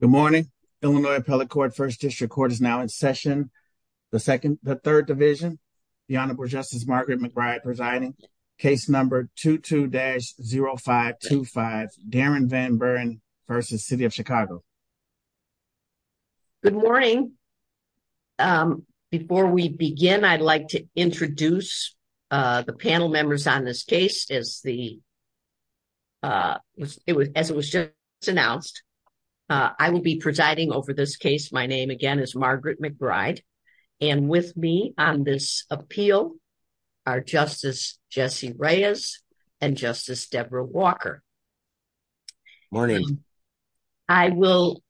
Good morning, Illinois Appellate Court, First District Court is now in session. The second, the third division, the Honorable Justice Margaret McBride presiding, case number 22-0525, Darren Van Buren v. City of Chicago. Good morning. Before we begin, I'd like to introduce the panel members on this case as the, as it was just announced, I will be presiding over this case. My name again is Margaret McBride and with me on this appeal are Justice Jesse Reyes and Justice Deborah Walker. Morning. I will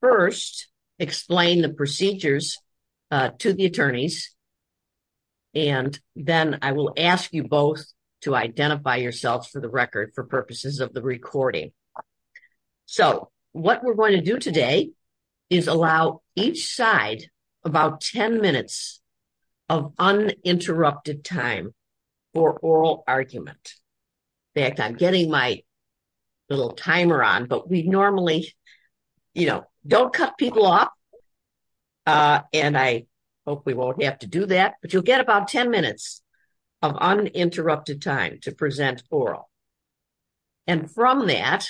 first explain the procedures to the attorneys and then I will ask you both to identify yourselves for the record for purposes of the recording. So what we're going to do today is allow each side about 10 minutes of uninterrupted time for oral argument. In fact, I'm getting my little timer on, but we normally, you know, don't cut people off. And I hope we won't have to do that, but you'll get about 10 minutes of uninterrupted time to present oral. And from that,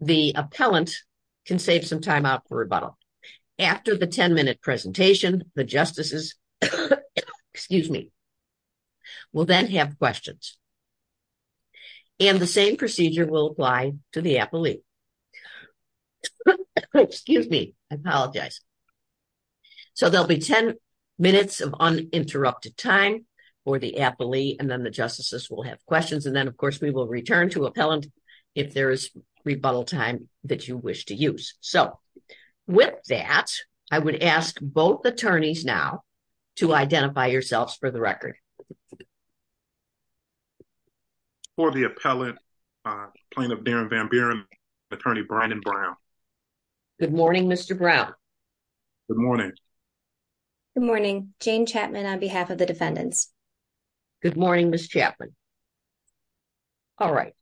the appellant can save some time out for rebuttal. After the 10 minute presentation, the justices, excuse me, will then have questions. And the same procedure will apply to the appellee. Excuse me. I apologize. So there'll be 10 minutes of uninterrupted time for the appellee. And then the justices will have questions. And then of course, we will return to appellant if there is rebuttal time that you wish to use. So with that, I would ask both attorneys now to identify yourselves for the record. For the appellant, plaintiff Darren Van Buren, attorney Bryden Brown. Good morning, Mr. Brown. Good morning. Good morning. Jane Chapman on behalf of the defendants. Good morning, Ms. Chapman. All right.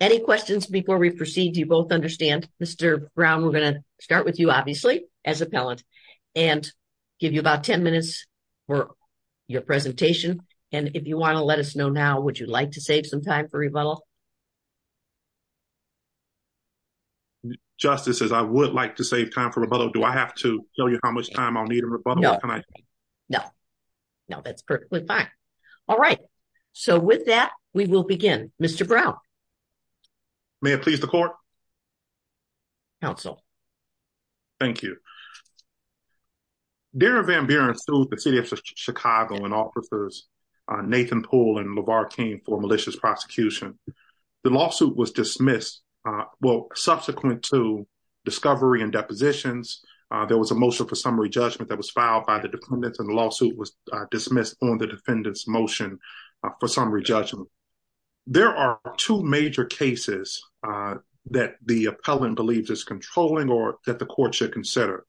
Any questions before we proceed, do you both understand? Mr. Brown, we're going to start with you, obviously, as appellant and give you about 10 minutes for your presentation. And if you want to let us know now, would you like to save some time for rebuttal? Justices, I would like to save time for rebuttal. Do I have to tell you how much time I'll need a rebuttal? No. No, that's perfectly fine. All right. So with that, we will begin. Mr. Brown. May it please the court? Counsel. Thank you. Darren Van Buren sued the city of Chicago and officers Nathan Poole and LeVar King for malicious prosecution. The lawsuit was dismissed. Well, subsequent to discovery and depositions, there was a motion for summary judgment that was filed by the defendants and the lawsuit was dismissed on the defendant's motion for summary judgment. There are two major cases that the appellant believes is controlling or that the court should consider.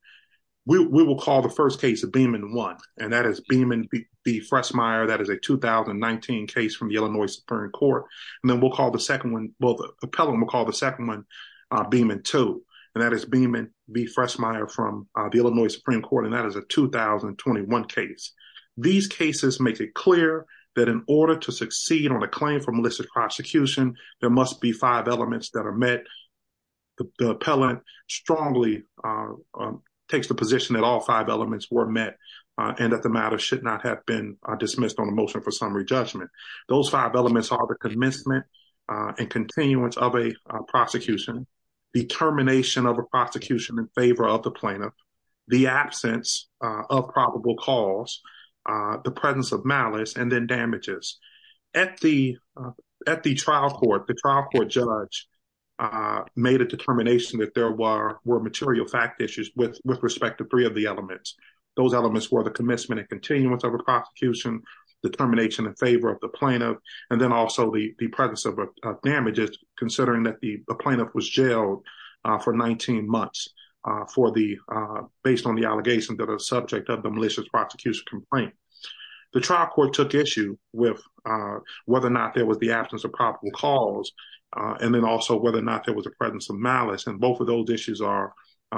We will call the first case of Beamon 1, and that is Beamon B. Freshmeyer. That is a 2019 case from the Illinois Supreme Court. And then we'll call the second one, well, the appellant will call the second one Beamon 2, and that is Beamon B. Freshmeyer from the Illinois Supreme Court. And that is a 2021 case. These cases make it clear that in order to succeed on a claim for malicious prosecution, there must be five elements that are met. The appellant strongly takes the position that all five elements were met and that the matter should not have been dismissed on a motion for summary judgment. Those five elements are the commencement and continuance of a prosecution, the termination of a prosecution in favor of the plaintiff, the absence of probable cause, the presence of malice, and then damages. At the trial court, the trial court judge made a determination that there were material fact issues with respect to three of the elements. Those elements were the commencement and continuance of a prosecution, the termination in favor of the plaintiff, and then also the presence of damages, considering that the plaintiff was jailed for 19 months based on with whether or not there was the absence of probable cause, and then also whether or not there was a presence of malice. And both of those issues are,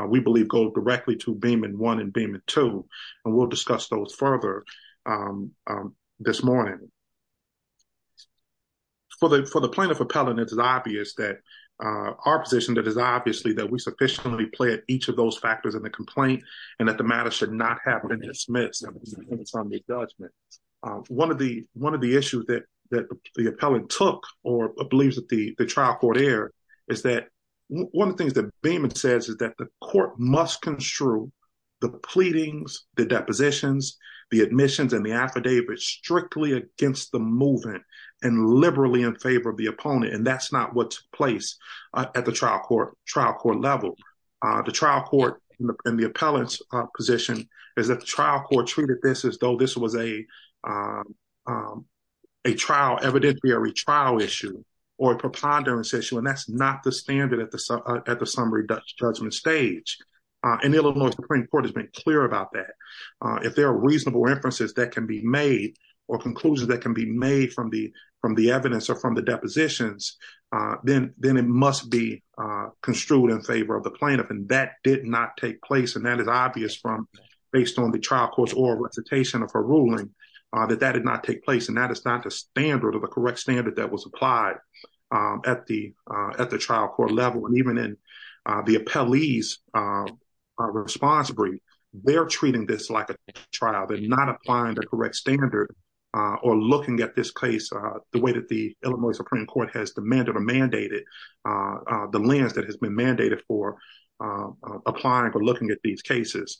we believe, go directly to Beamon 1 and Beamon 2, and we'll discuss those further this morning. For the plaintiff appellant, it's obvious that our position that is obviously that we sufficiently pled each of those factors in the complaint and that the matter should not have been dismissed on a summary judgment. One of the issues that the appellant took or believes that the trial court aired is that one of the things that Beamon says is that the court must construe the pleadings, the depositions, the admissions, and the affidavits strictly against the movement and liberally in favor of the opponent, and that's not what's placed at the trial court level. The trial court and the plaintiff are not supposed to be a trial, evidentiary trial issue, or a preponderance issue, and that's not the standard at the summary judgment stage. And Illinois Supreme Court has been clear about that. If there are reasonable inferences that can be made or conclusions that can be made from the evidence or from the depositions, then it must be construed in favor of the plaintiff, and that did not take place, and that is obvious based on the trial court's oral recitation of her ruling that that did not take place, and that is not the standard or the correct standard that was applied at the trial court level. And even in the appellee's responsibility, they're treating this like a trial. They're not applying the correct standard or looking at this case the way that the Illinois Supreme Court has demanded or mandated the lens that has been mandated for applying or looking at these cases.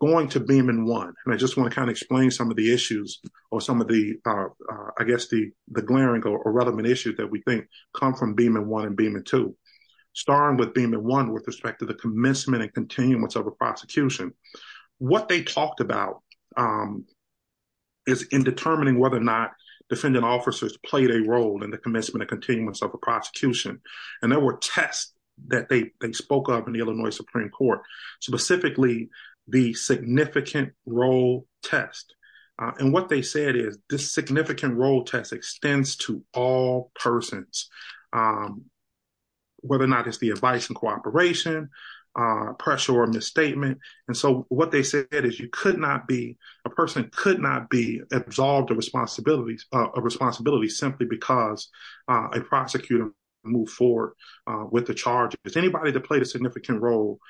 Going to Beaman 1, and I just want to kind of explain some of the issues or some of the, I guess, the glaring or relevant issues that we think come from Beaman 1 and Beaman 2. Starting with Beaman 1 with respect to the commencement and continuance of a prosecution, what they talked about is in determining whether or not defendant officers played a role in the commencement and continuance of a prosecution, and there were tests that they spoke of in the significant role test. And what they said is this significant role test extends to all persons, whether or not it's the advice and cooperation, pressure or misstatement. And so what they said is you could not be, a person could not be absolved of responsibilities simply because a prosecutor moved forward with the charges. Anybody that played a significant role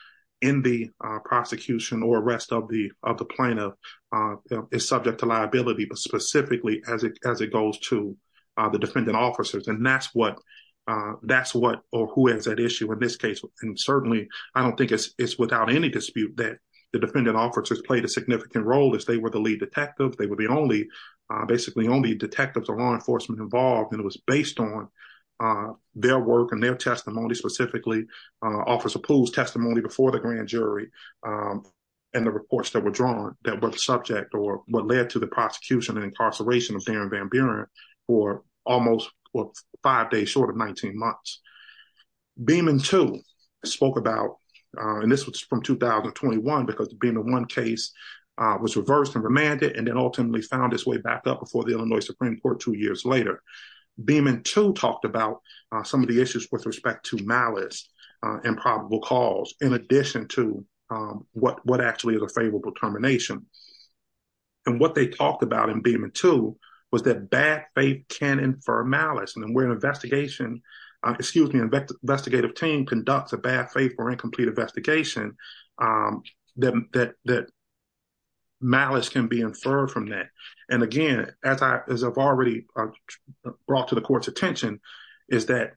in the prosecution or arrest of the plaintiff is subject to liability, but specifically as it goes to the defendant officers. And that's what, or who has that issue in this case. And certainly, I don't think it's without any dispute that the defendant officers played a significant role as they were the lead detective. They would be only, basically only detectives or law enforcement involved. And it was based on their work and their testimony, specifically Officer Poole's testimony before the grand jury and the reports that were drawn that were the subject or what led to the prosecution and incarceration of Darren Van Buren for almost five days short of 19 months. Beeman too spoke about, and this was from 2021 because the Beeman One case was reversed and remanded and then ultimately found its way back up before the Illinois Supreme Court two years later. Beeman too talked about some of the issues with respect to malice and probable cause in addition to what actually is a favorable termination. And what they talked about in Beeman too was that bad faith can infer malice. And then we're an investigation, excuse me, investigative team conducts a bad faith or incomplete investigation that malice can be inferred from that. And again, as I've already brought to the court's attention is that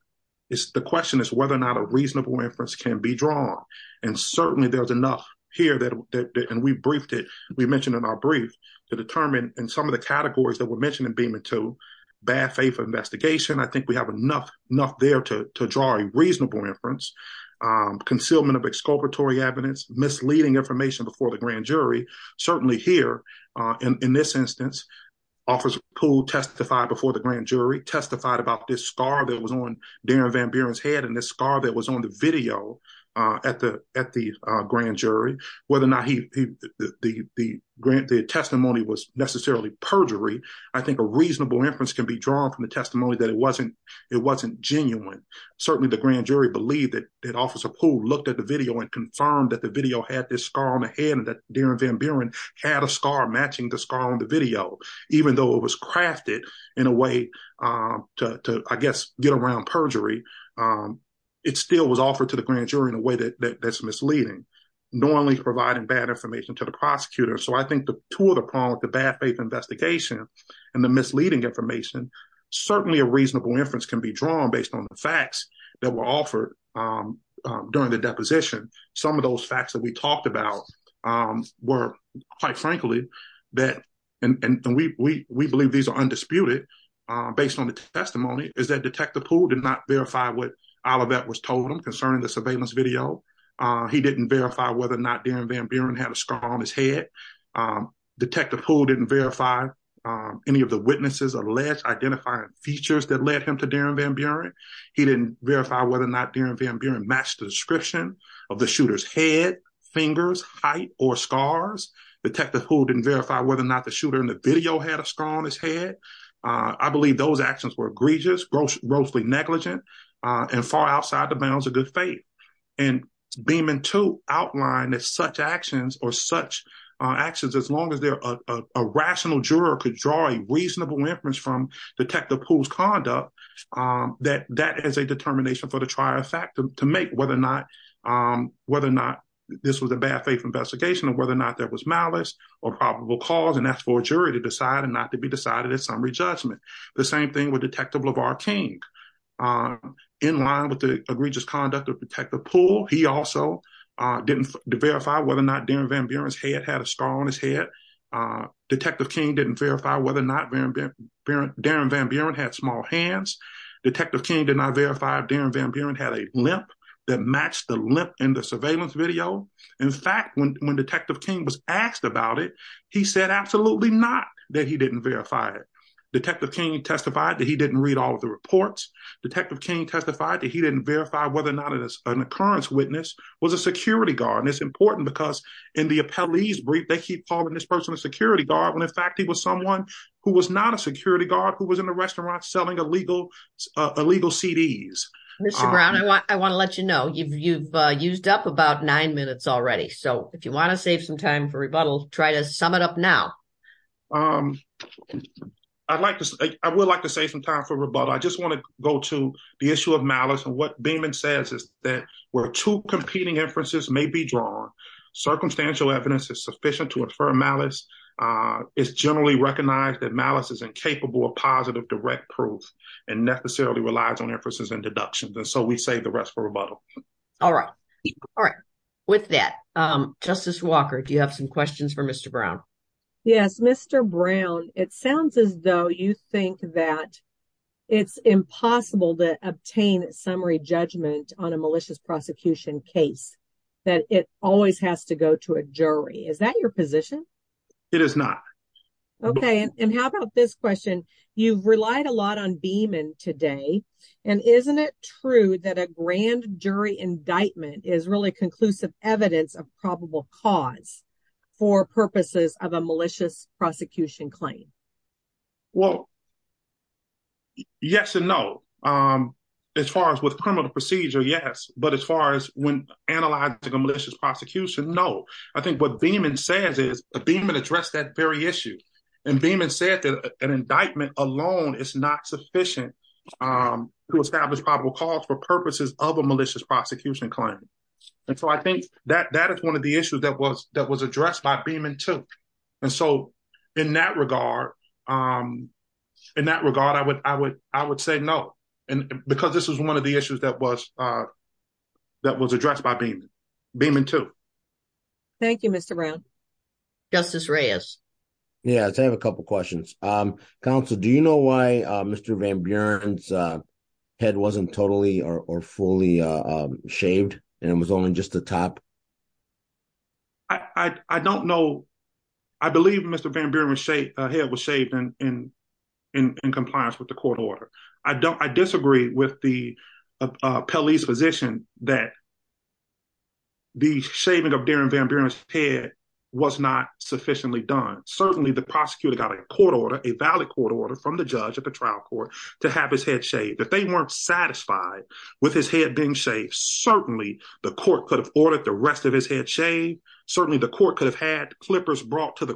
it's the question is whether or not a reasonable inference can be drawn. And certainly there's enough here that, and we briefed it, we mentioned in our brief to determine in some of the categories that were mentioned in Beeman too, bad faith investigation. I think we have enough there to draw a reasonable inference, concealment of exculpatory evidence, misleading information before the grand jury, certainly here in this instance, Officer Poole testified before the grand jury, testified about this scar that was on Darren Van Buren's head and the scar that was on the video at the grand jury, whether or not the testimony was necessarily perjury. I think a reasonable inference can be drawn from the testimony that it wasn't genuine. Certainly the grand jury believed that Officer Poole looked at the video and confirmed that the video had this scar on the Darren Van Buren had a scar matching the scar on the video, even though it was crafted in a way to, I guess, get around perjury. It still was offered to the grand jury in a way that's misleading, normally providing bad information to the prosecutor. So I think the two of the problems, the bad faith investigation and the misleading information, certainly a reasonable inference can be drawn based on the facts that were offered during the deposition. Some of those facts that we talked about were quite frankly that, and we believe these are undisputed based on the testimony, is that Detective Poole did not verify what Olivette was told him concerning the surveillance video. He didn't verify whether or not Darren Van Buren had a scar on his head. Detective Poole didn't verify any of the witnesses or less identifying features that led him to Darren Van Buren. He didn't verify whether or not Darren Van Buren matched the description of the shooter's head, fingers, height, or scars. Detective Poole didn't verify whether or not the shooter in the video had a scar on his head. I believe those actions were egregious, grossly negligent, and far outside the bounds of good faith. And Beeman, too, outlined that such actions or such actions, as long as a rational juror could draw a reasonable inference from Detective Poole's conduct, that that is a determination for the trier of fact to make whether or not this was a bad faith investigation or whether or not there was malice or probable cause, and that's for a jury to decide and not to be decided at summary judgment. The same thing with Detective LeVar King. In line with the egregious conduct of Detective Poole, he also didn't verify whether or not Darren Van Buren's head had a scar on his head. Detective King didn't verify whether or not Darren Van Buren had small hands. Detective King did not verify if Darren Van Buren had a limp that matched the limp in the surveillance video. In fact, when Detective King was asked about it, he said absolutely not that he didn't verify it. Detective King testified that he didn't read all of the reports. Detective King testified that he didn't verify whether or not an occurrence witness was a security guard, and it's important because in the appellee's brief, they keep calling this person a security guard when in fact he was someone who was not a security guard who was in the restaurant selling illegal CDs. Mr. Brown, I want to let you know you've used up about nine minutes already, so if you want to save some time for rebuttal, try to sum it up now. I would like to save some time for rebuttal. I just want to go to the issue of malice and Beaman says is that where two competing inferences may be drawn, circumstantial evidence is sufficient to infer malice. It's generally recognized that malice is incapable of positive direct proof and necessarily relies on inferences and deductions, and so we save the rest for rebuttal. All right. All right. With that, Justice Walker, do you have some questions for Mr. Brown? Yes. Mr. Brown, it sounds as though you think that it's impossible to obtain a summary judgment on a malicious prosecution case, that it always has to go to a jury. Is that your position? It is not. Okay, and how about this question? You've relied a lot on Beaman today, and isn't it true that a grand jury indictment is really conclusive evidence of probable cause for purposes of a malicious prosecution claim? Well, yes and no. As far as with criminal procedure, yes, but as far as when analyzing a malicious prosecution, no. I think what Beaman says is, Beaman addressed that very issue, and Beaman said that an indictment alone is not sufficient to establish probable cause for purposes of a malicious prosecution claim, and so I think that is one of the issues that was in that regard. In that regard, I would say no, because this was one of the issues that was addressed by Beaman too. Thank you, Mr. Brown. Justice Reyes. Yes, I have a couple questions. Counsel, do you know why Mr. Van Buren's head wasn't totally or fully shaved, and it was only just the top? I don't know. I believe Mr. Van Buren's head was shaved in compliance with the court order. I disagree with the police position that the shaving of Darren Van Buren's head was not sufficiently done. Certainly, the prosecutor got a court order, a valid court order, from the judge at the trial court to have his head shaved. If they weren't satisfied with his head being shaved, certainly the court could have ordered the rest of his head shaved. Certainly, the court could have had clippers brought to the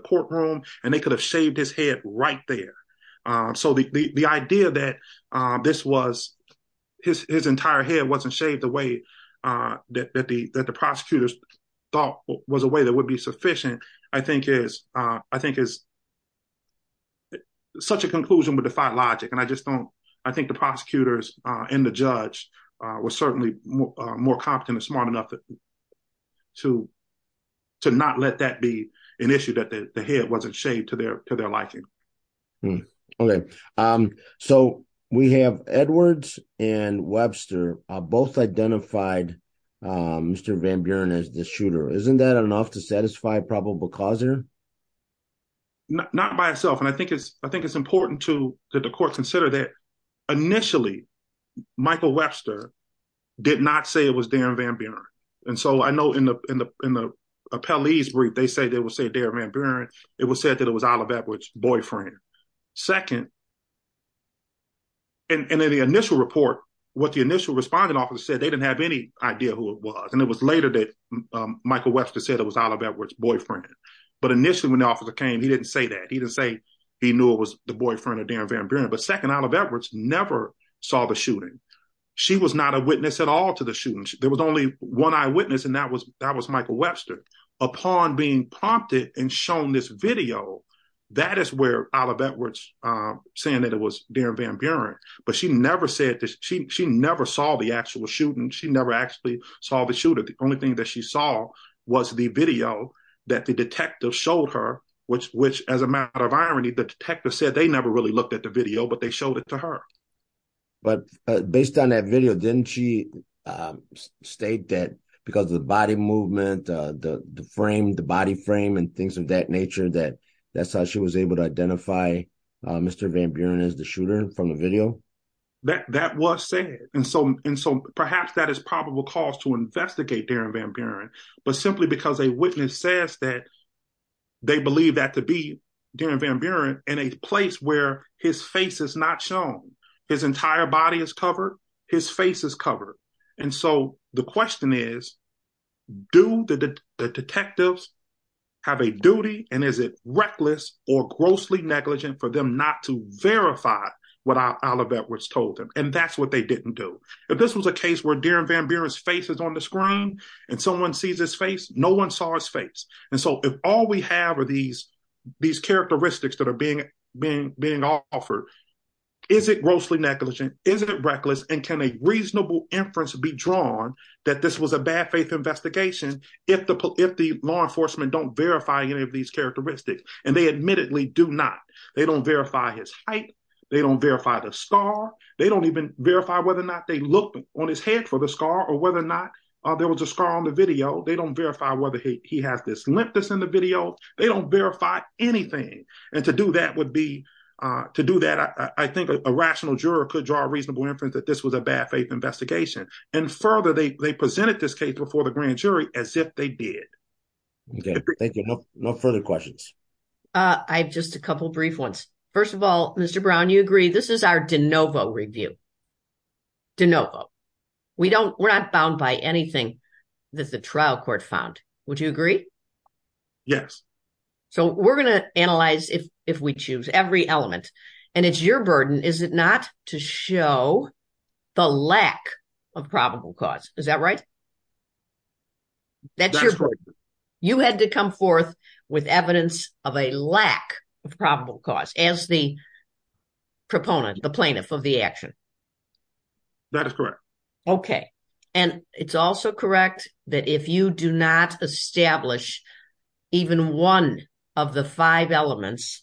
courtroom, and they could have shaved his head right there. So, the idea that his entire head wasn't shaved the way that the prosecutors thought was a way that would be sufficient, I think is such a conclusion would defy logic. I think the prosecutors and the judge were certainly more competent and smart enough to not let that be an issue that the head wasn't shaved to their liking. Okay. So, we have Edwards and Webster both identified Mr. Van Buren as the shooter. Isn't that enough to satisfy a probable causer? Not by itself. I think it's important that the court consider that initially, Michael Webster did not say it was Darren Van Buren. So, I know in the appellee's brief, they said they would say Darren Van Buren. It was said that it was Olive Edwards' boyfriend. Second, in the initial report, what the initial responding officer said, they didn't have any idea who it was. And it was later that Michael Webster said it was Olive Edwards' boyfriend. But initially, when the officer came, he didn't say that. He didn't say he knew it was the boyfriend of Darren Van Buren. But second, Olive Edwards never saw the shooting. She was not a witness at all to the shooting. There was only one eyewitness, and that was Michael Webster. Upon being prompted and shown this video, that is where Olive Edwards saying that it was Darren Van Buren. But she never saw the actual shooting. She never actually saw the shooter. The only thing that she saw was the video that the detective showed her, which as a matter of irony, the detective said they never really looked at the video, but they showed it to her. But based on that video, didn't she state that because of the body movement, the frame, the body frame and things of that nature, that that's how she was able to identify Mr. Van Buren as the shooter from the video? That was said. And so perhaps that is probable cause to investigate Darren Van Buren, but simply because a witness says that they believe that to be Darren Van Buren in a place where his face is not shown, his entire body is covered, his face is covered. And so the question is, do the detectives have a duty and is it reckless or grossly negligent for them not to verify what Olive Edwards told them? And that's what they didn't do. If this was a case where Darren Van Buren's on the screen and someone sees his face, no one saw his face. And so if all we have are these characteristics that are being offered, is it grossly negligent? Is it reckless? And can a reasonable inference be drawn that this was a bad faith investigation if the law enforcement don't verify any of these characteristics? And they admittedly do not. They don't verify his height. They don't verify the scar. They don't even verify whether or not they looked on his head for the scar or whether or not there was a scar on the video. They don't verify whether he has this limpness in the video. They don't verify anything. And to do that, I think a rational juror could draw a reasonable inference that this was a bad faith investigation. And further, they presented this case before the grand jury as if they did. Okay, thank you. No further questions. I have just a couple of brief ones. First of all, Mr. Brown, you agree this is our de novo review. De novo. We're not bound by anything that the trial court found. Would you agree? Yes. So we're going to analyze if we choose every element. And it's your burden, is it not to show the lack of probable cause? Is that right? That's your burden. You had to come forth with evidence of a lack of probable cause as the proponent, the plaintiff of the action. That is correct. Okay. And it's also correct that if you do not establish even one of the five elements,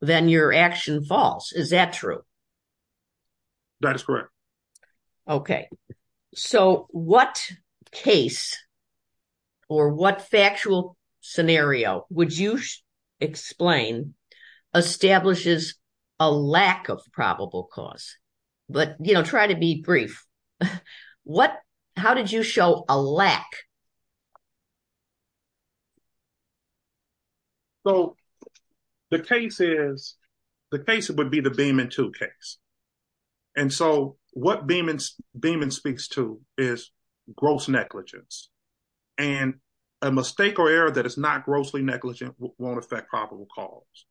then your action falls. Is that true? That is correct. Okay. So what case or what factual scenario would you explain establishes a lack of probable cause? But try to be brief. How did you show a lack? So the case would be the Beamon 2 case. And so what Beamon speaks to is gross negligence. And a mistake or error that is not grossly negligent won't affect probable cause.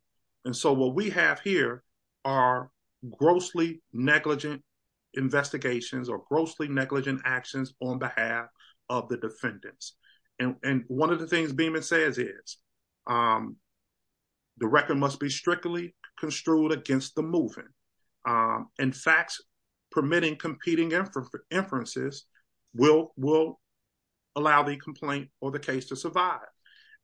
And so what we have here are grossly negligent investigations or grossly negligent actions on behalf of the defendants. And one of the things Beamon says is the record must be strictly construed against the moving. In fact, permitting competing inferences will allow the complaint or the case to survive.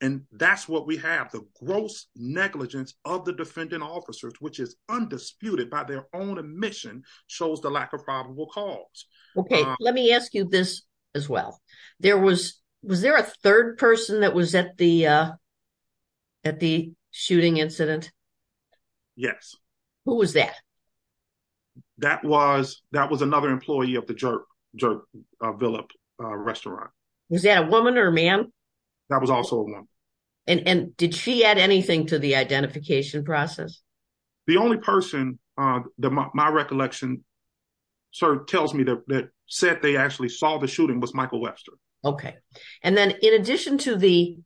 And that's what we have. The gross negligence of the defendant officers, which is undisputed by their own admission, shows the lack of probable cause. Okay. Let me ask you this as well. Was there a third person that was at the shooting incident? Yes. Who was that? That was another employee of the Jerk Villip restaurant. Was that a woman or a man? That was also a woman. And did she add anything to the identification process? The only person that my recollection sort of tells me that said they actually saw the shooting was Michael Webster. Okay. And then in addition to the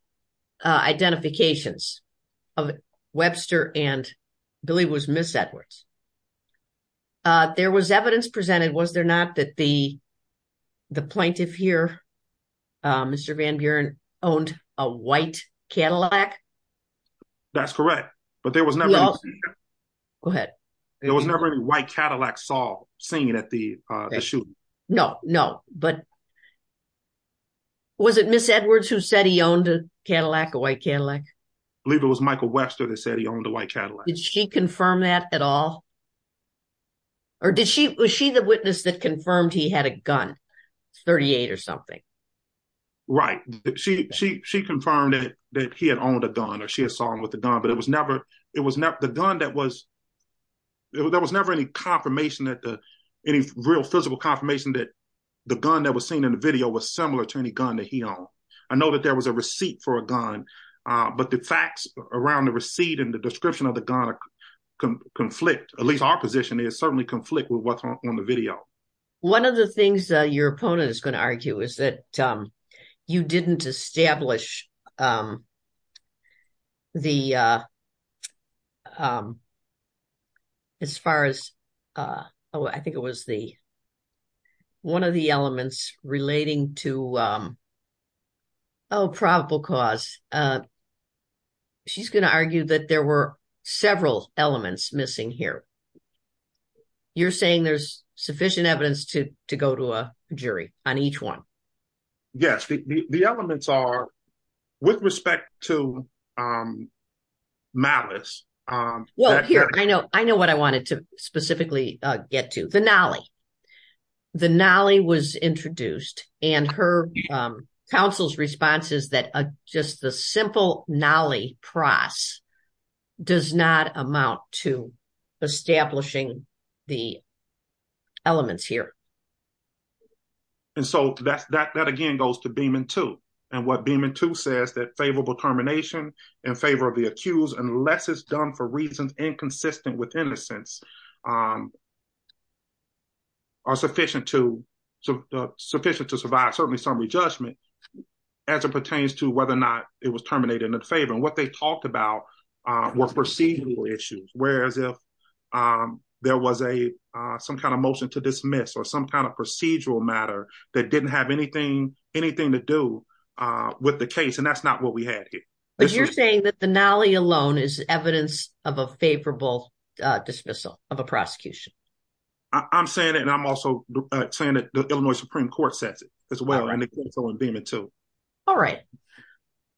identifications of Webster and I believe it was Miss Edwards, there was evidence presented. Was there not that the plaintiff here, Mr. Van Buren, owned a white Cadillac? That's correct. But there was never any white Cadillac saw seen at the shooting. No, no. But was it Miss Edwards who said he owned a Cadillac, a white Cadillac? I believe it was Michael Webster that said he owned a white Cadillac. Did she confirm that at all? Or was she the witness that confirmed he had a gun, 38 or something? Right. She confirmed that he had owned a gun or she had saw him with a gun, but there was never any real physical confirmation that the gun that was seen in the video was similar to any gun that he owned. I know that there was a receipt for a gun, but the facts around the receipt and the description of the gun conflict, at least our position is certainly conflict with what's on the video. One of the things your opponent is going to argue is that you didn't establish one of the elements relating to probable cause. She's going to argue that there were several elements missing here. You're saying there's sufficient evidence to go to a jury on each one? Yes, the elements are, with respect to malice. Well, here I know, I know what I wanted to specifically get to, the nolly. The nolly was introduced and her counsel's response is that just the simple nolly price does not amount to establishing the elements here. And so that again goes to Beeman 2. And what Beeman 2 says that favorable termination in favor of the accused, unless it's done for reasons inconsistent with innocence, are sufficient to survive certainly summary judgment as it pertains to whether or not it was terminated in favor. And what they talked about were procedural issues, whereas if there was some kind of motion to dismiss or some kind of procedural matter that didn't have anything to do with the case, and that's not what we had here. But you're saying that the nolly alone is evidence of a favorable dismissal of a prosecution? I'm saying it and I'm also saying that the Illinois Supreme Court says it as well, and the counsel in Beeman 2. All right.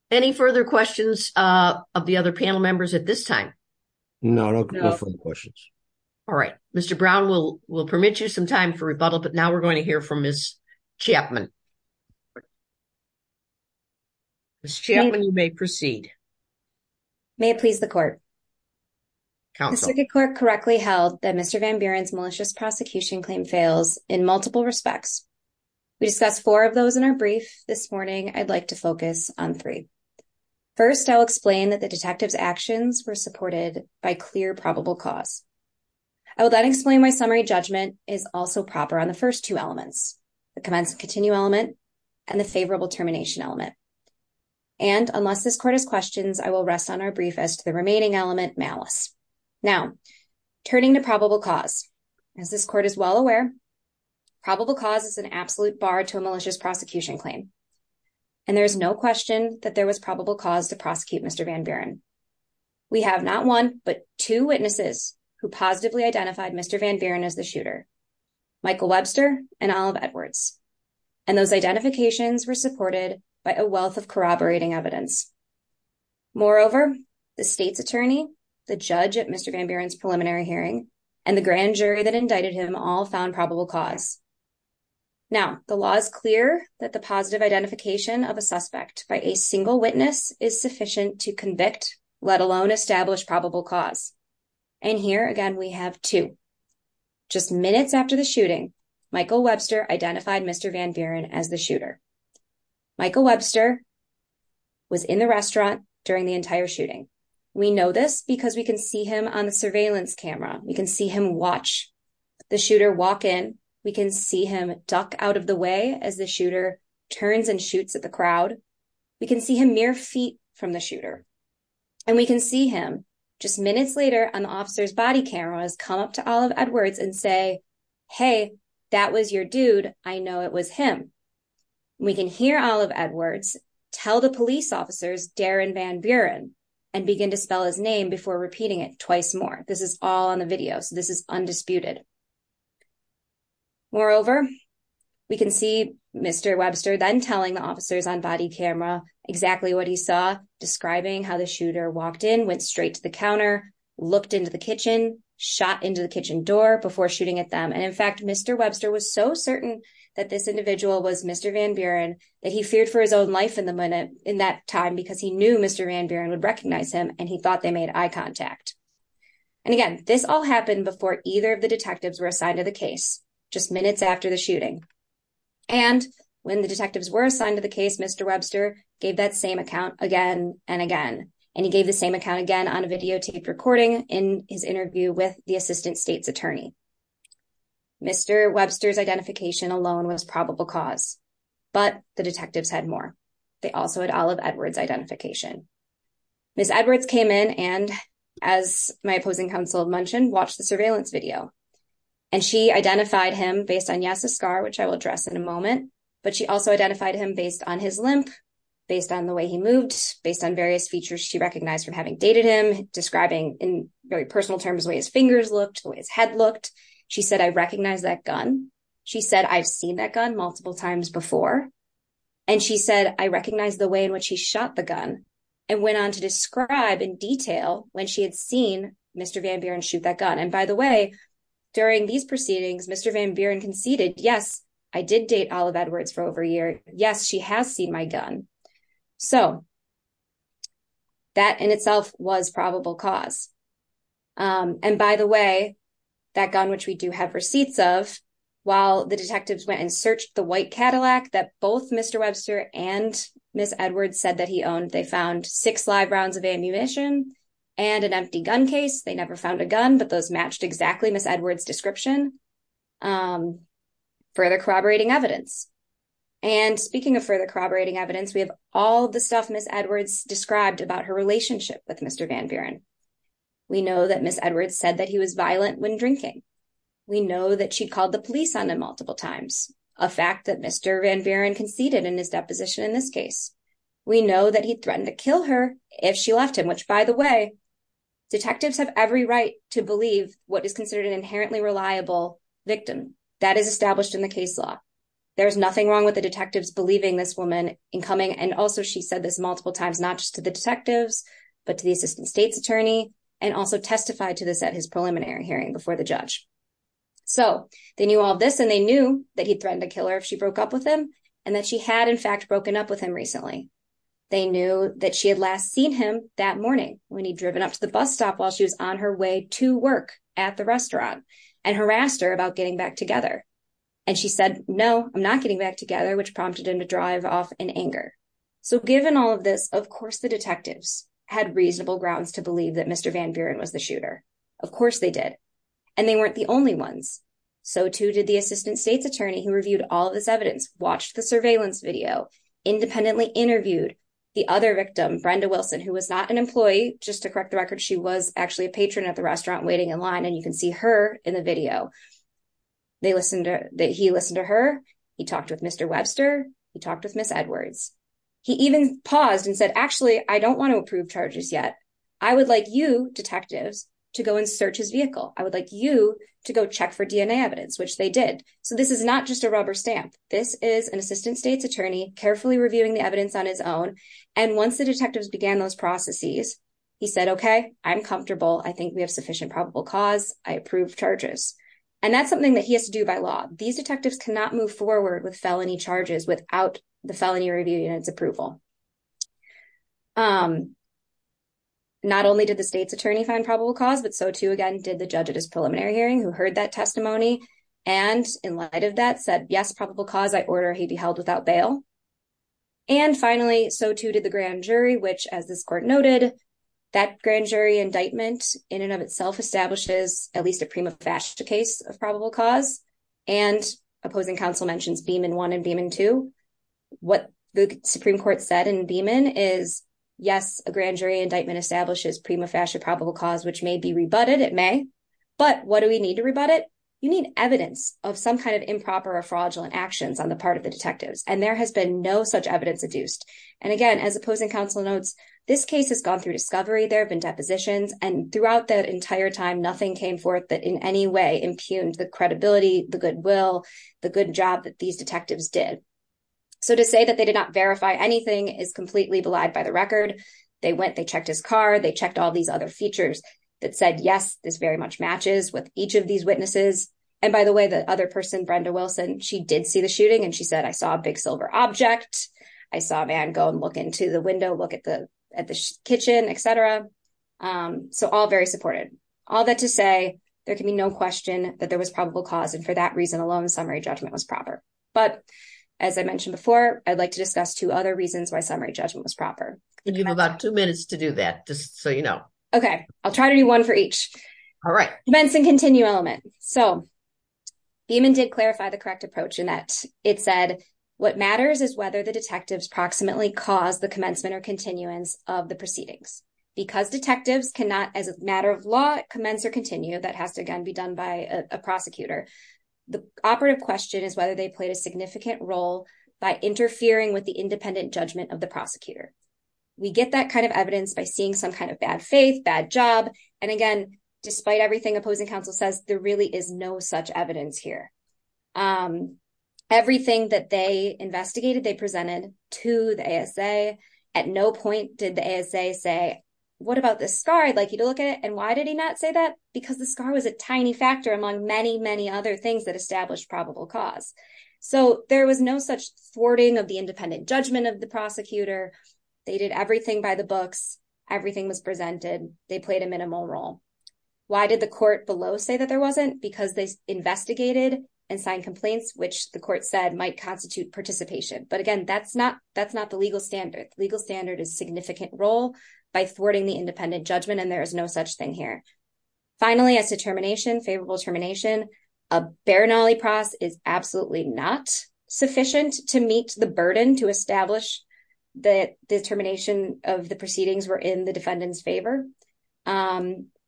Any further questions of the other panel members at this time? No, no questions. All right. Mr. Brown, we'll permit you some time for rebuttal, but now we're going to hear from Ms. Chapman. Ms. Chapman, you may proceed. May it please the court. The circuit court correctly held that Mr. Van Buren's malicious prosecution claim fails in multiple respects. We discussed four of those in our brief. This morning, I'd like to focus on three. First, I'll explain that the detective's actions were supported by clear probable cause. I will then explain why summary judgment is also proper on the first two elements, the commensal continue element and the favorable termination element. And unless this court has questions, I will rest on our brief as to the remaining element malice. Now, turning to probable cause, as this court is well aware, probable cause is an absolute bar to a malicious prosecution claim. And there's no question that there was probable cause to prosecute Mr. Van Buren. We have not one, but two witnesses who positively identified Mr. Van Buren as the shooter, Michael Webster and Olive Edwards. And those identifications were supported by a wealth corroborating evidence. Moreover, the state's attorney, the judge at Mr. Van Buren's preliminary hearing and the grand jury that indicted him all found probable cause. Now, the law is clear that the positive identification of a suspect by a single witness is sufficient to convict, let alone establish probable cause. And here again, we have two. Just minutes after the shooting, Michael Webster was in the restaurant during the entire shooting. We know this because we can see him on the surveillance camera. We can see him watch the shooter walk in. We can see him duck out of the way as the shooter turns and shoots at the crowd. We can see him mere feet from the shooter. And we can see him just minutes later on the officer's body camera has come up to Olive Edwards and say, hey, that was your dude. I know it was him. We can hear Olive Edwards tell the police officers, Darren Van Buren, and begin to spell his name before repeating it twice more. This is all on the video. So this is undisputed. Moreover, we can see Mr. Webster then telling the officers on body camera exactly what he saw describing how the shooter walked in, went straight to the counter, looked into the kitchen, shot into the kitchen door before shooting at them. And in fact, Mr. Webster was so certain that this individual was Mr. Van Buren that he feared for his own life in that time because he knew Mr. Van Buren would recognize him and he thought they made eye contact. And again, this all happened before either of the detectives were assigned to the case, just minutes after the shooting. And when the detectives were assigned to the case, Mr. Webster gave that same account again and again. And he gave the same account again on a videotaped recording in his interview with the assistant state's attorney. Mr. Webster's identification alone was probable cause, but the detectives had more. They also had Olive Edwards' identification. Ms. Edwards came in and, as my opposing counsel mentioned, watched the surveillance video. And she identified him based on Yass's scar, which I will address in a moment. But she also identified him based on his limp, based on the way he moved, based on various features she recognized from having dated him, describing in very personal terms the way his fingers looked, the way his head looked. She said, I recognize that gun. She said, I've seen that gun multiple times before. And she said, I recognize the way in which he shot the gun and went on to describe in detail when she had seen Mr. Van Buren shoot that gun. And by the way, during these Yes, she has seen my gun. So that in itself was probable cause. And by the way, that gun, which we do have receipts of, while the detectives went and searched the white Cadillac that both Mr. Webster and Ms. Edwards said that he owned, they found six live rounds of ammunition and an empty gun case. They never found a gun, but those matched exactly Ms. Edwards' description. Further corroborating evidence. And speaking of further corroborating evidence, we have all the stuff Ms. Edwards described about her relationship with Mr. Van Buren. We know that Ms. Edwards said that he was violent when drinking. We know that she called the police on him multiple times, a fact that Mr. Van Buren conceded in his deposition in this case. We know that he threatened to kill her if she left him, which by the way, detectives have every right to believe what is considered an inherently reliable victim. That is established in the case law. There is nothing wrong with the detectives believing this woman in coming. And also she said this multiple times, not just to the detectives, but to the assistant state's attorney, and also testified to this at his preliminary hearing before the judge. So they knew all this and they knew that he threatened to kill her if she broke up with him, and that she had in fact broken up with him recently. They knew that she had last seen him that morning when he'd driven up to the bus stop while she was on her way to work at the restaurant and harassed her about getting back together. And she said, no, I'm not getting back together, which prompted him to drive off in anger. So given all of this, of course, the detectives had reasonable grounds to believe that Mr. Van Buren was the shooter. Of course they did. And they weren't the only ones. So too did the assistant state's attorney who reviewed all of this evidence, watched the surveillance video, independently interviewed the other victim, Brenda Wilson, who was not an employee, just to correct the record, she was actually a patron at the restaurant waiting in line. And you can see her in the video. He listened to her. He talked with Mr. Webster. He talked with Ms. Edwards. He even paused and said, actually, I don't want to approve charges yet. I would like you detectives to go and search his vehicle. I would like you to go check for DNA evidence, which they did. So this is not just a rubber stamp. This is an assistant state's attorney carefully reviewing the evidence on his own. And once the detectives began those processes, he said, okay, I'm comfortable. I think we have sufficient probable cause. I approve charges. And that's something that he has to do by law. These detectives cannot move forward with felony charges without the felony review unit's approval. Not only did the state's attorney find probable cause, but so too, again, did the judge at his preliminary hearing who heard that testimony. And in light of that said, yes, probable cause, he'd be held without bail. And finally, so too did the grand jury, which as this court noted, that grand jury indictment in and of itself establishes at least a prima facie case of probable cause. And opposing counsel mentions Beaman one and Beaman two. What the Supreme Court said in Beaman is, yes, a grand jury indictment establishes prima facie probable cause, which may be rebutted. It may. But what do we need to rebut it? You need evidence of some kind of improper or fraudulent actions on the part of the detectives. And there has been no such evidence adduced. And again, as opposing counsel notes, this case has gone through discovery. There have been depositions. And throughout that entire time, nothing came forth that in any way impugned the credibility, the goodwill, the good job that these detectives did. So to say that they did not verify anything is completely belied by the record. They went, they checked his car. They checked all these other features that said, yes, this very much matches with each of these witnesses. And by the way, the other person, Brenda Wilson, she did see the shooting. And she said, I saw a big silver object. I saw a man go and look into the window, look at the kitchen, et cetera. So all very supportive. All that to say, there can be no question that there was probable cause. And for that reason alone, summary judgment was proper. But as I mentioned before, I'd like to discuss two other reasons why summary judgment was proper. You have about two minutes to do that, just so you know. Okay. I'll try to do one for each. All right. Commence and continue element. So Beeman did clarify the correct approach in that it said, what matters is whether the detectives proximately caused the commencement or continuance of the proceedings. Because detectives cannot, as a matter of law, commence or continue, that has to again be done by a prosecutor. The operative question is whether they played a significant role by interfering with the independent judgment of the prosecutor. We get that kind of evidence by seeing some kind of bad faith, bad job. And again, despite everything opposing counsel says, there really is no such evidence here. Everything that they investigated, they presented to the ASA. At no point did the ASA say, what about this scar? I'd like you to look at it. And why did he not say that? Because the scar was a tiny factor among many, many other things that established probable cause. So there was no such thwarting of the independent judgment of the prosecutor. They did everything by the books. Everything was presented. They played a minimal role. Why did the court below say that there wasn't? Because they investigated and signed complaints, which the court said might constitute participation. But again, that's not the legal standard. The legal standard is significant role by thwarting the independent judgment, and there is no such thing here. Finally, as to termination, favorable termination, a bare nollie pross is absolutely not sufficient to meet the burden to establish that the termination of the proceedings were in the defendant's favor.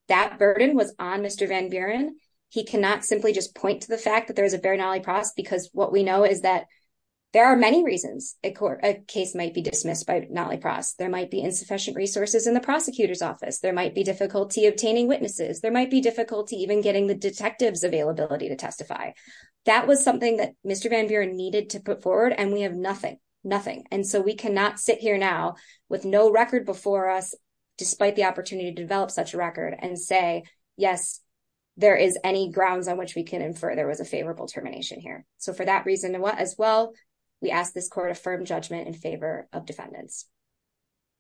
That burden was on Mr. Van Buren. He cannot simply just point to the fact that there is a bare nollie pross because what we know is that there are many reasons a case might be dismissed by nollie pross. There might be insufficient resources in the prosecutor's office. There might be difficulty obtaining witnesses. There might be difficulty even getting the detectives availability to testify. That was something that Mr. Van Buren needed to put forward, and we have nothing, nothing. And so we cannot sit here now with no record before us, despite the opportunity to develop such a record and say, yes, there is any grounds on which we can infer there was a favorable termination here. So for that reason as well, we ask this court to affirm judgment in favor of defendants.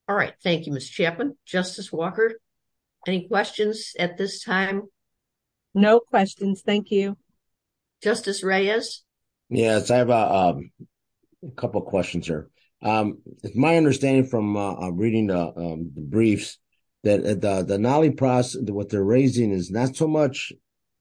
All right. Thank you, Ms. Chapman. Justice Walker, any questions at this time? No questions. Thank you. Justice Reyes? Yes, I have a couple questions here. It's my understanding from reading the briefs that the nollie pross, what they're raising is not so much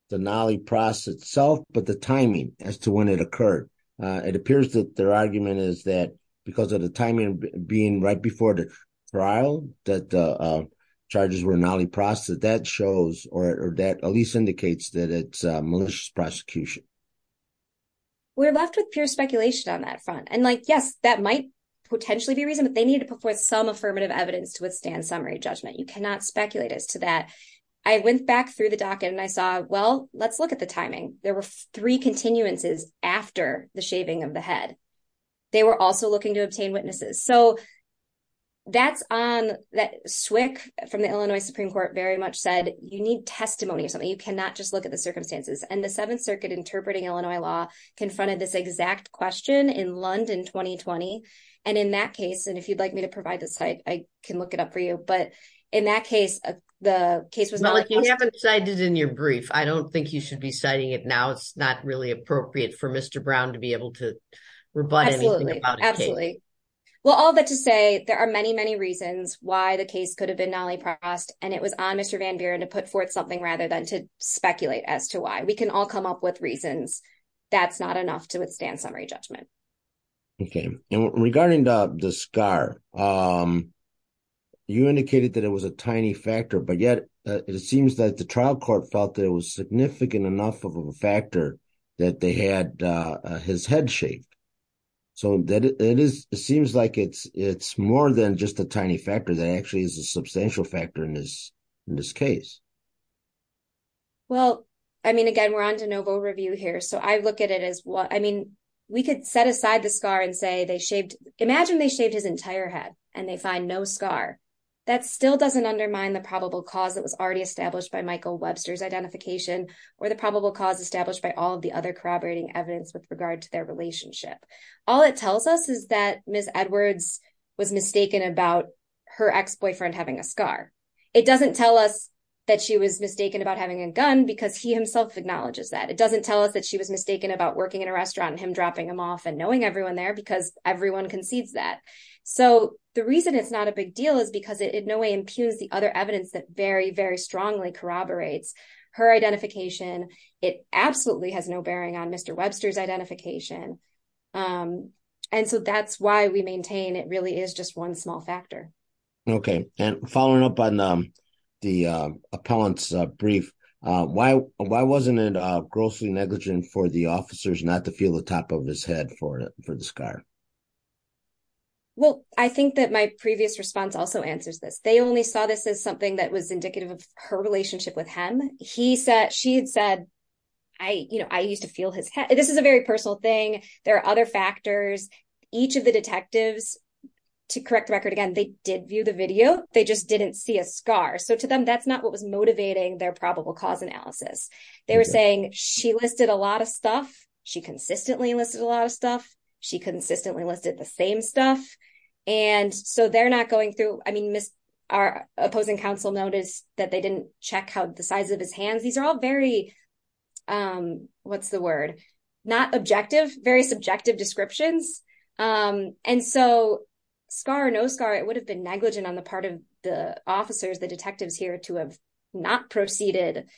the nollie pross itself, but the timing as to when it occurred. It appears their argument is that because of the timing being right before the trial that the charges were nollie pross, that shows or at least indicates that it's a malicious prosecution. We're left with pure speculation on that front. And like, yes, that might potentially be reason, but they need to put forth some affirmative evidence to withstand summary judgment. You cannot speculate as to that. I went back through the docket and I saw, well, let's look at the they were also looking to obtain witnesses. So that's on that SWCC from the Illinois Supreme Court very much said, you need testimony or something. You cannot just look at the circumstances. And the seventh circuit interpreting Illinois law confronted this exact question in London, 2020. And in that case, and if you'd like me to provide the site, I can look it up for you. But in that case, the case was decided in your brief. I don't think you should be citing it now. It's not really appropriate for Mr. Brown to be able to rebut absolutely. Well, all that to say, there are many, many reasons why the case could have been nollie prossed and it was on Mr. Van Buren to put forth something rather than to speculate as to why we can all come up with reasons. That's not enough to withstand summary judgment. Okay. And regarding the scar, you indicated that it was a tiny factor, but yet it seems that the trial court felt it was significant enough of a factor that they had his head shaved. So that it is, it seems like it's more than just a tiny factor that actually is a substantial factor in this case. Well, I mean, again, we're on de novo review here. So I look at it as what, I mean, we could set aside the scar and say they shaved, imagine they shaved his entire head and they find no scar that still doesn't undermine the probable cause that was already established by Michael Webster's identification or the probable cause established by all of the other corroborating evidence with regard to their relationship. All it tells us is that Ms. Edwards was mistaken about her ex-boyfriend having a scar. It doesn't tell us that she was mistaken about having a gun because he himself acknowledges that. It doesn't tell us that she was mistaken about working in a restaurant and him dropping them off and knowing everyone there because everyone concedes that. So the reason it's not a big deal is because it in no way impugns the other evidence that very, very corroborates her identification. It absolutely has no bearing on Mr. Webster's identification. And so that's why we maintain it really is just one small factor. Okay. And following up on the appellant's brief, why wasn't it grossly negligent for the officers not to feel the top of his head for the scar? Well, I think that my previous response also answers this. They only saw this as something that was indicative of her relationship with him. She had said, I used to feel his head. This is a very personal thing. There are other factors. Each of the detectives, to correct the record again, they did view the video. They just didn't see a scar. So to them, that's not what was motivating their probable cause analysis. They were saying she listed a lot of stuff. She consistently listed a lot of stuff. She our opposing counsel noticed that they didn't check how the size of his hands. These are all what's the word? Not objective, very subjective descriptions. And so scar or no scar, it would have been negligent on the part of the officers, the detectives here to have not proceeded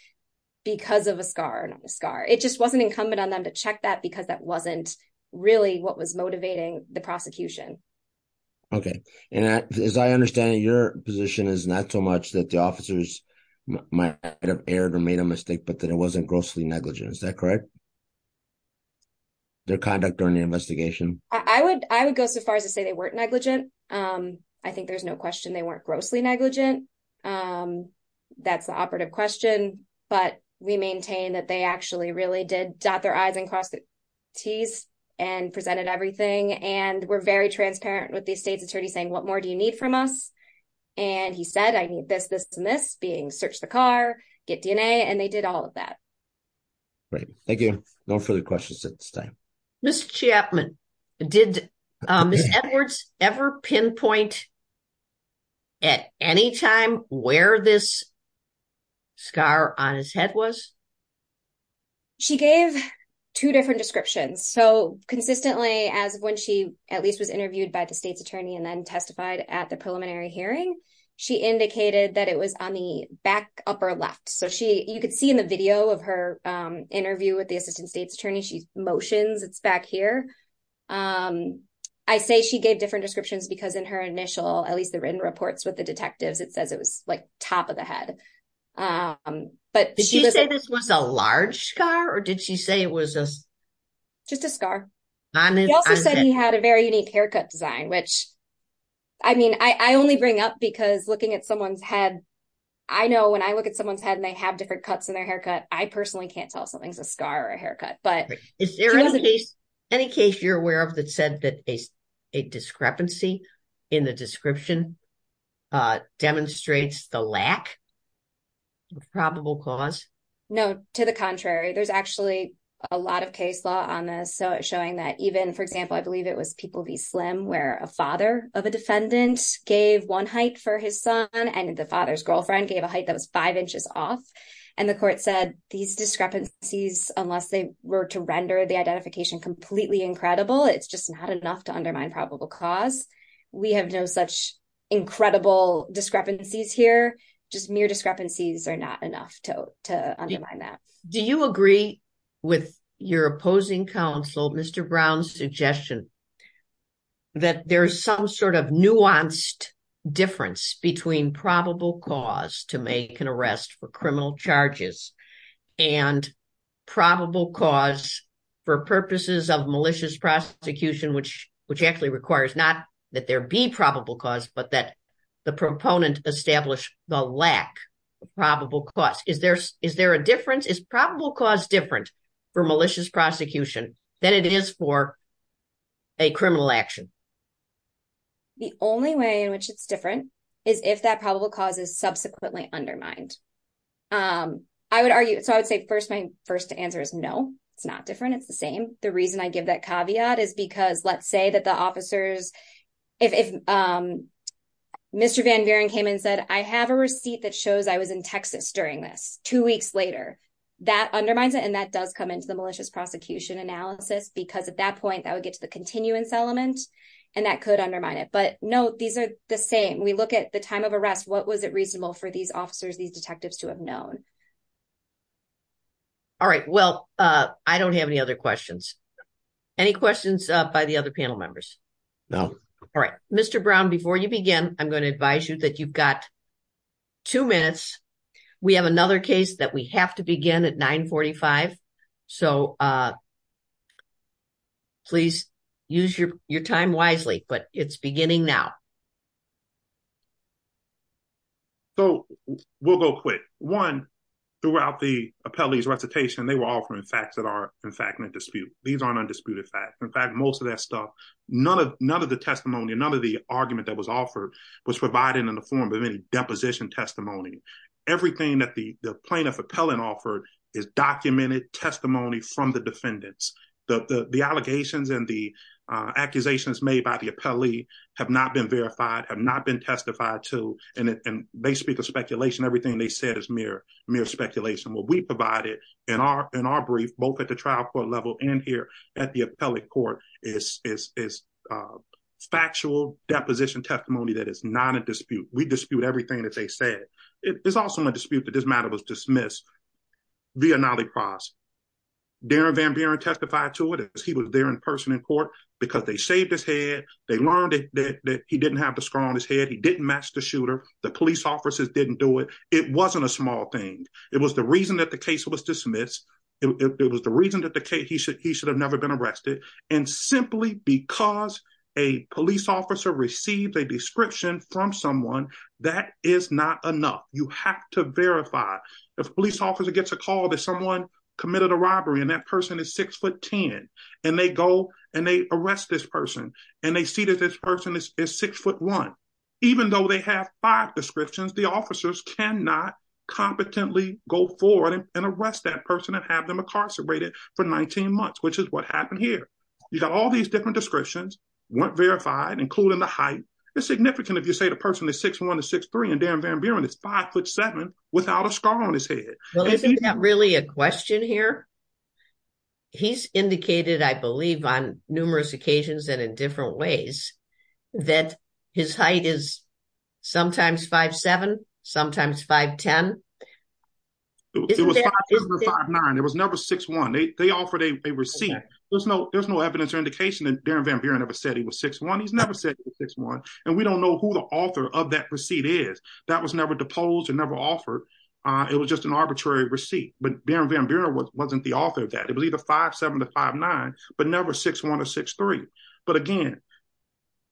because of a scar or not a scar. It just wasn't incumbent on them to check that because that wasn't really what was motivating the prosecution. Okay. And as I understand it, your position is not so much that the officers might have erred or made a mistake, but that it wasn't grossly negligent. Is that correct? Their conduct during the investigation? I would go so far as to say they weren't negligent. I think there's no question they weren't grossly negligent. That's the operative question, but we maintain that they actually really did dot their I's and T's and presented everything. And we're very transparent with the state's attorney saying, what more do you need from us? And he said, I need this, this, and this being searched the car, get DNA. And they did all of that. Great. Thank you. No further questions at this time. Ms. Chapman, did Ms. Edwards ever pinpoint at any time where this scar on his head was? She gave two different descriptions. So consistently as of when she at least was interviewed by the state's attorney and then testified at the preliminary hearing, she indicated that it was on the back upper left. So you could see in the video of her interview with the assistant state's attorney, she motions it's back here. I say she gave different descriptions because in her initial, at least the written reports with the detectives, it says it was like top of the head. Did she say this was a large scar or did she say it was just a scar? He also said he had a very unique haircut design, which I mean, I only bring up because looking at someone's head, I know when I look at someone's head and they have different cuts in their haircut, I personally can't tell if something's a scar or a haircut. But is there any case you're aware of that said that a discrepancy in the description demonstrates the lack of probable cause? No, to the contrary. There's actually a lot of case law on this. So it's showing that even, for example, I believe it was People v. Slim where a father of a defendant gave one height for his son and the father's girlfriend gave a height that was five inches off. And the court said these discrepancies, unless they were to render the identification completely incredible, it's just not enough to undermine probable cause. We have no such incredible discrepancies here, just mere discrepancies are not enough to undermine that. Do you agree with your opposing counsel, Mr. Brown's suggestion, that there's some sort of nuanced difference between probable cause to make an arrest for criminal charges and probable cause for purposes of malicious prosecution, which actually requires not that there be probable cause, but that the proponent establish the lack of probable cause? Is there a difference? Is probable cause different for malicious prosecution than it is for a criminal action? The only way in which it's different is if that probable cause is subsequently undermined. I would argue, so I would say first, my first answer is no, it's not different. It's the same. The reason I give that caveat is because let's say that the officers, if Mr. Van Vieren came and said, I have a receipt that shows I was in Texas during this two weeks later, that undermines it. And that does come into the malicious prosecution analysis, because at that point, that would get to the continuance element. And that could undermine it. But no, these are the same. We look at the time of arrest, what was it reasonable for these officers, these detectives to have known? All right. Well, I don't have any other questions. Any questions by the other panel members? No. All right. Mr. Brown, before you begin, I'm going to advise you that you've got two minutes. We have another case that we have to begin at 945. So please use your time wisely, but it's beginning now. So we'll go quick. One, throughout the appellee's recitation, they were offering facts that are, in fact, in dispute. These aren't undisputed facts. In fact, most of that stuff, none of the testimony, none of the argument that was offered was provided in the form of any deposition testimony. Everything that the plaintiff appellant offered is documented testimony from the defendants. The allegations and the accusations made by the appellee have not been verified, have not been testified to, and they speak of speculation. Everything they said is mere speculation. What we provided in our brief, both at the trial court level and here at the appellate court, is factual deposition testimony that is not in dispute. We dispute everything that they said. It's also in dispute that this matter was dismissed via Nally Cross. Darren Van Buren testified to it. He was there in person in court because they learned that he didn't have the scar on his head, he didn't match the shooter, the police officers didn't do it. It wasn't a small thing. It was the reason that the case was dismissed. It was the reason that he should have never been arrested. And simply because a police officer received a description from someone, that is not enough. You have to verify. If a police officer gets a call that someone committed a robbery and that person is six foot ten and they go and they arrest this person and they see that this person is six foot one, even though they have five descriptions, the officers cannot competently go forward and arrest that person and have them incarcerated for 19 months, which is what happened here. You got all these different descriptions, weren't verified, including the height. It's significant if you say the person is six foot one to six foot three and Darren Van Buren is five foot seven without a scar on his head. Well, isn't that really a question here? He's indicated, I believe, on numerous occasions and in different ways that his height is sometimes five, seven, sometimes five, ten. It was never six one. They offered a receipt. There's no evidence or indication that Darren Van Buren ever said he was six one. He's never said he was six one. And we don't know who the author of that receipt is. That was never deposed or never offered. It was just an arbitrary receipt. But Darren Van Buren wasn't the author of that. It was either five, seven to five, nine, but never six one or six three. But again,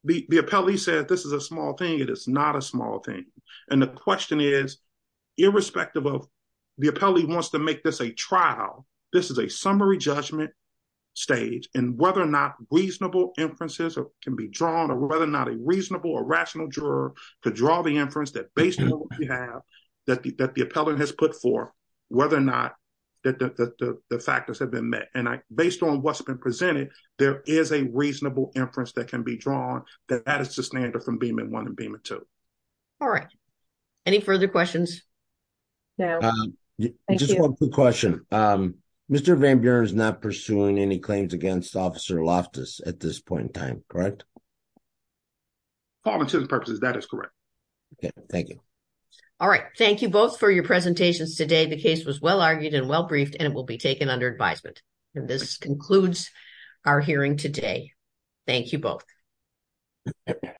the appellee said this is a small thing. It is not a small thing. And the question is, irrespective of the appellee wants to make this a trial, this is a summary judgment stage and whether or not reasonable inferences can be drawn or whether or not a reasonable or rational juror could draw the inference that the appellant has put forth, whether or not the factors have been met. And based on what's been presented, there is a reasonable inference that can be drawn that that is the standard from Beaman 1 and Beaman 2. All right. Any further questions? Just one quick question. Mr. Van Buren is not pursuing any claims against Officer Loftus at this point in time, correct? For all intents and purposes, that is correct. Okay. Thank you. All right. Thank you both for your presentations today. The case was well argued and well briefed and it will be taken under advisement. And this concludes our hearing today. Thank you both.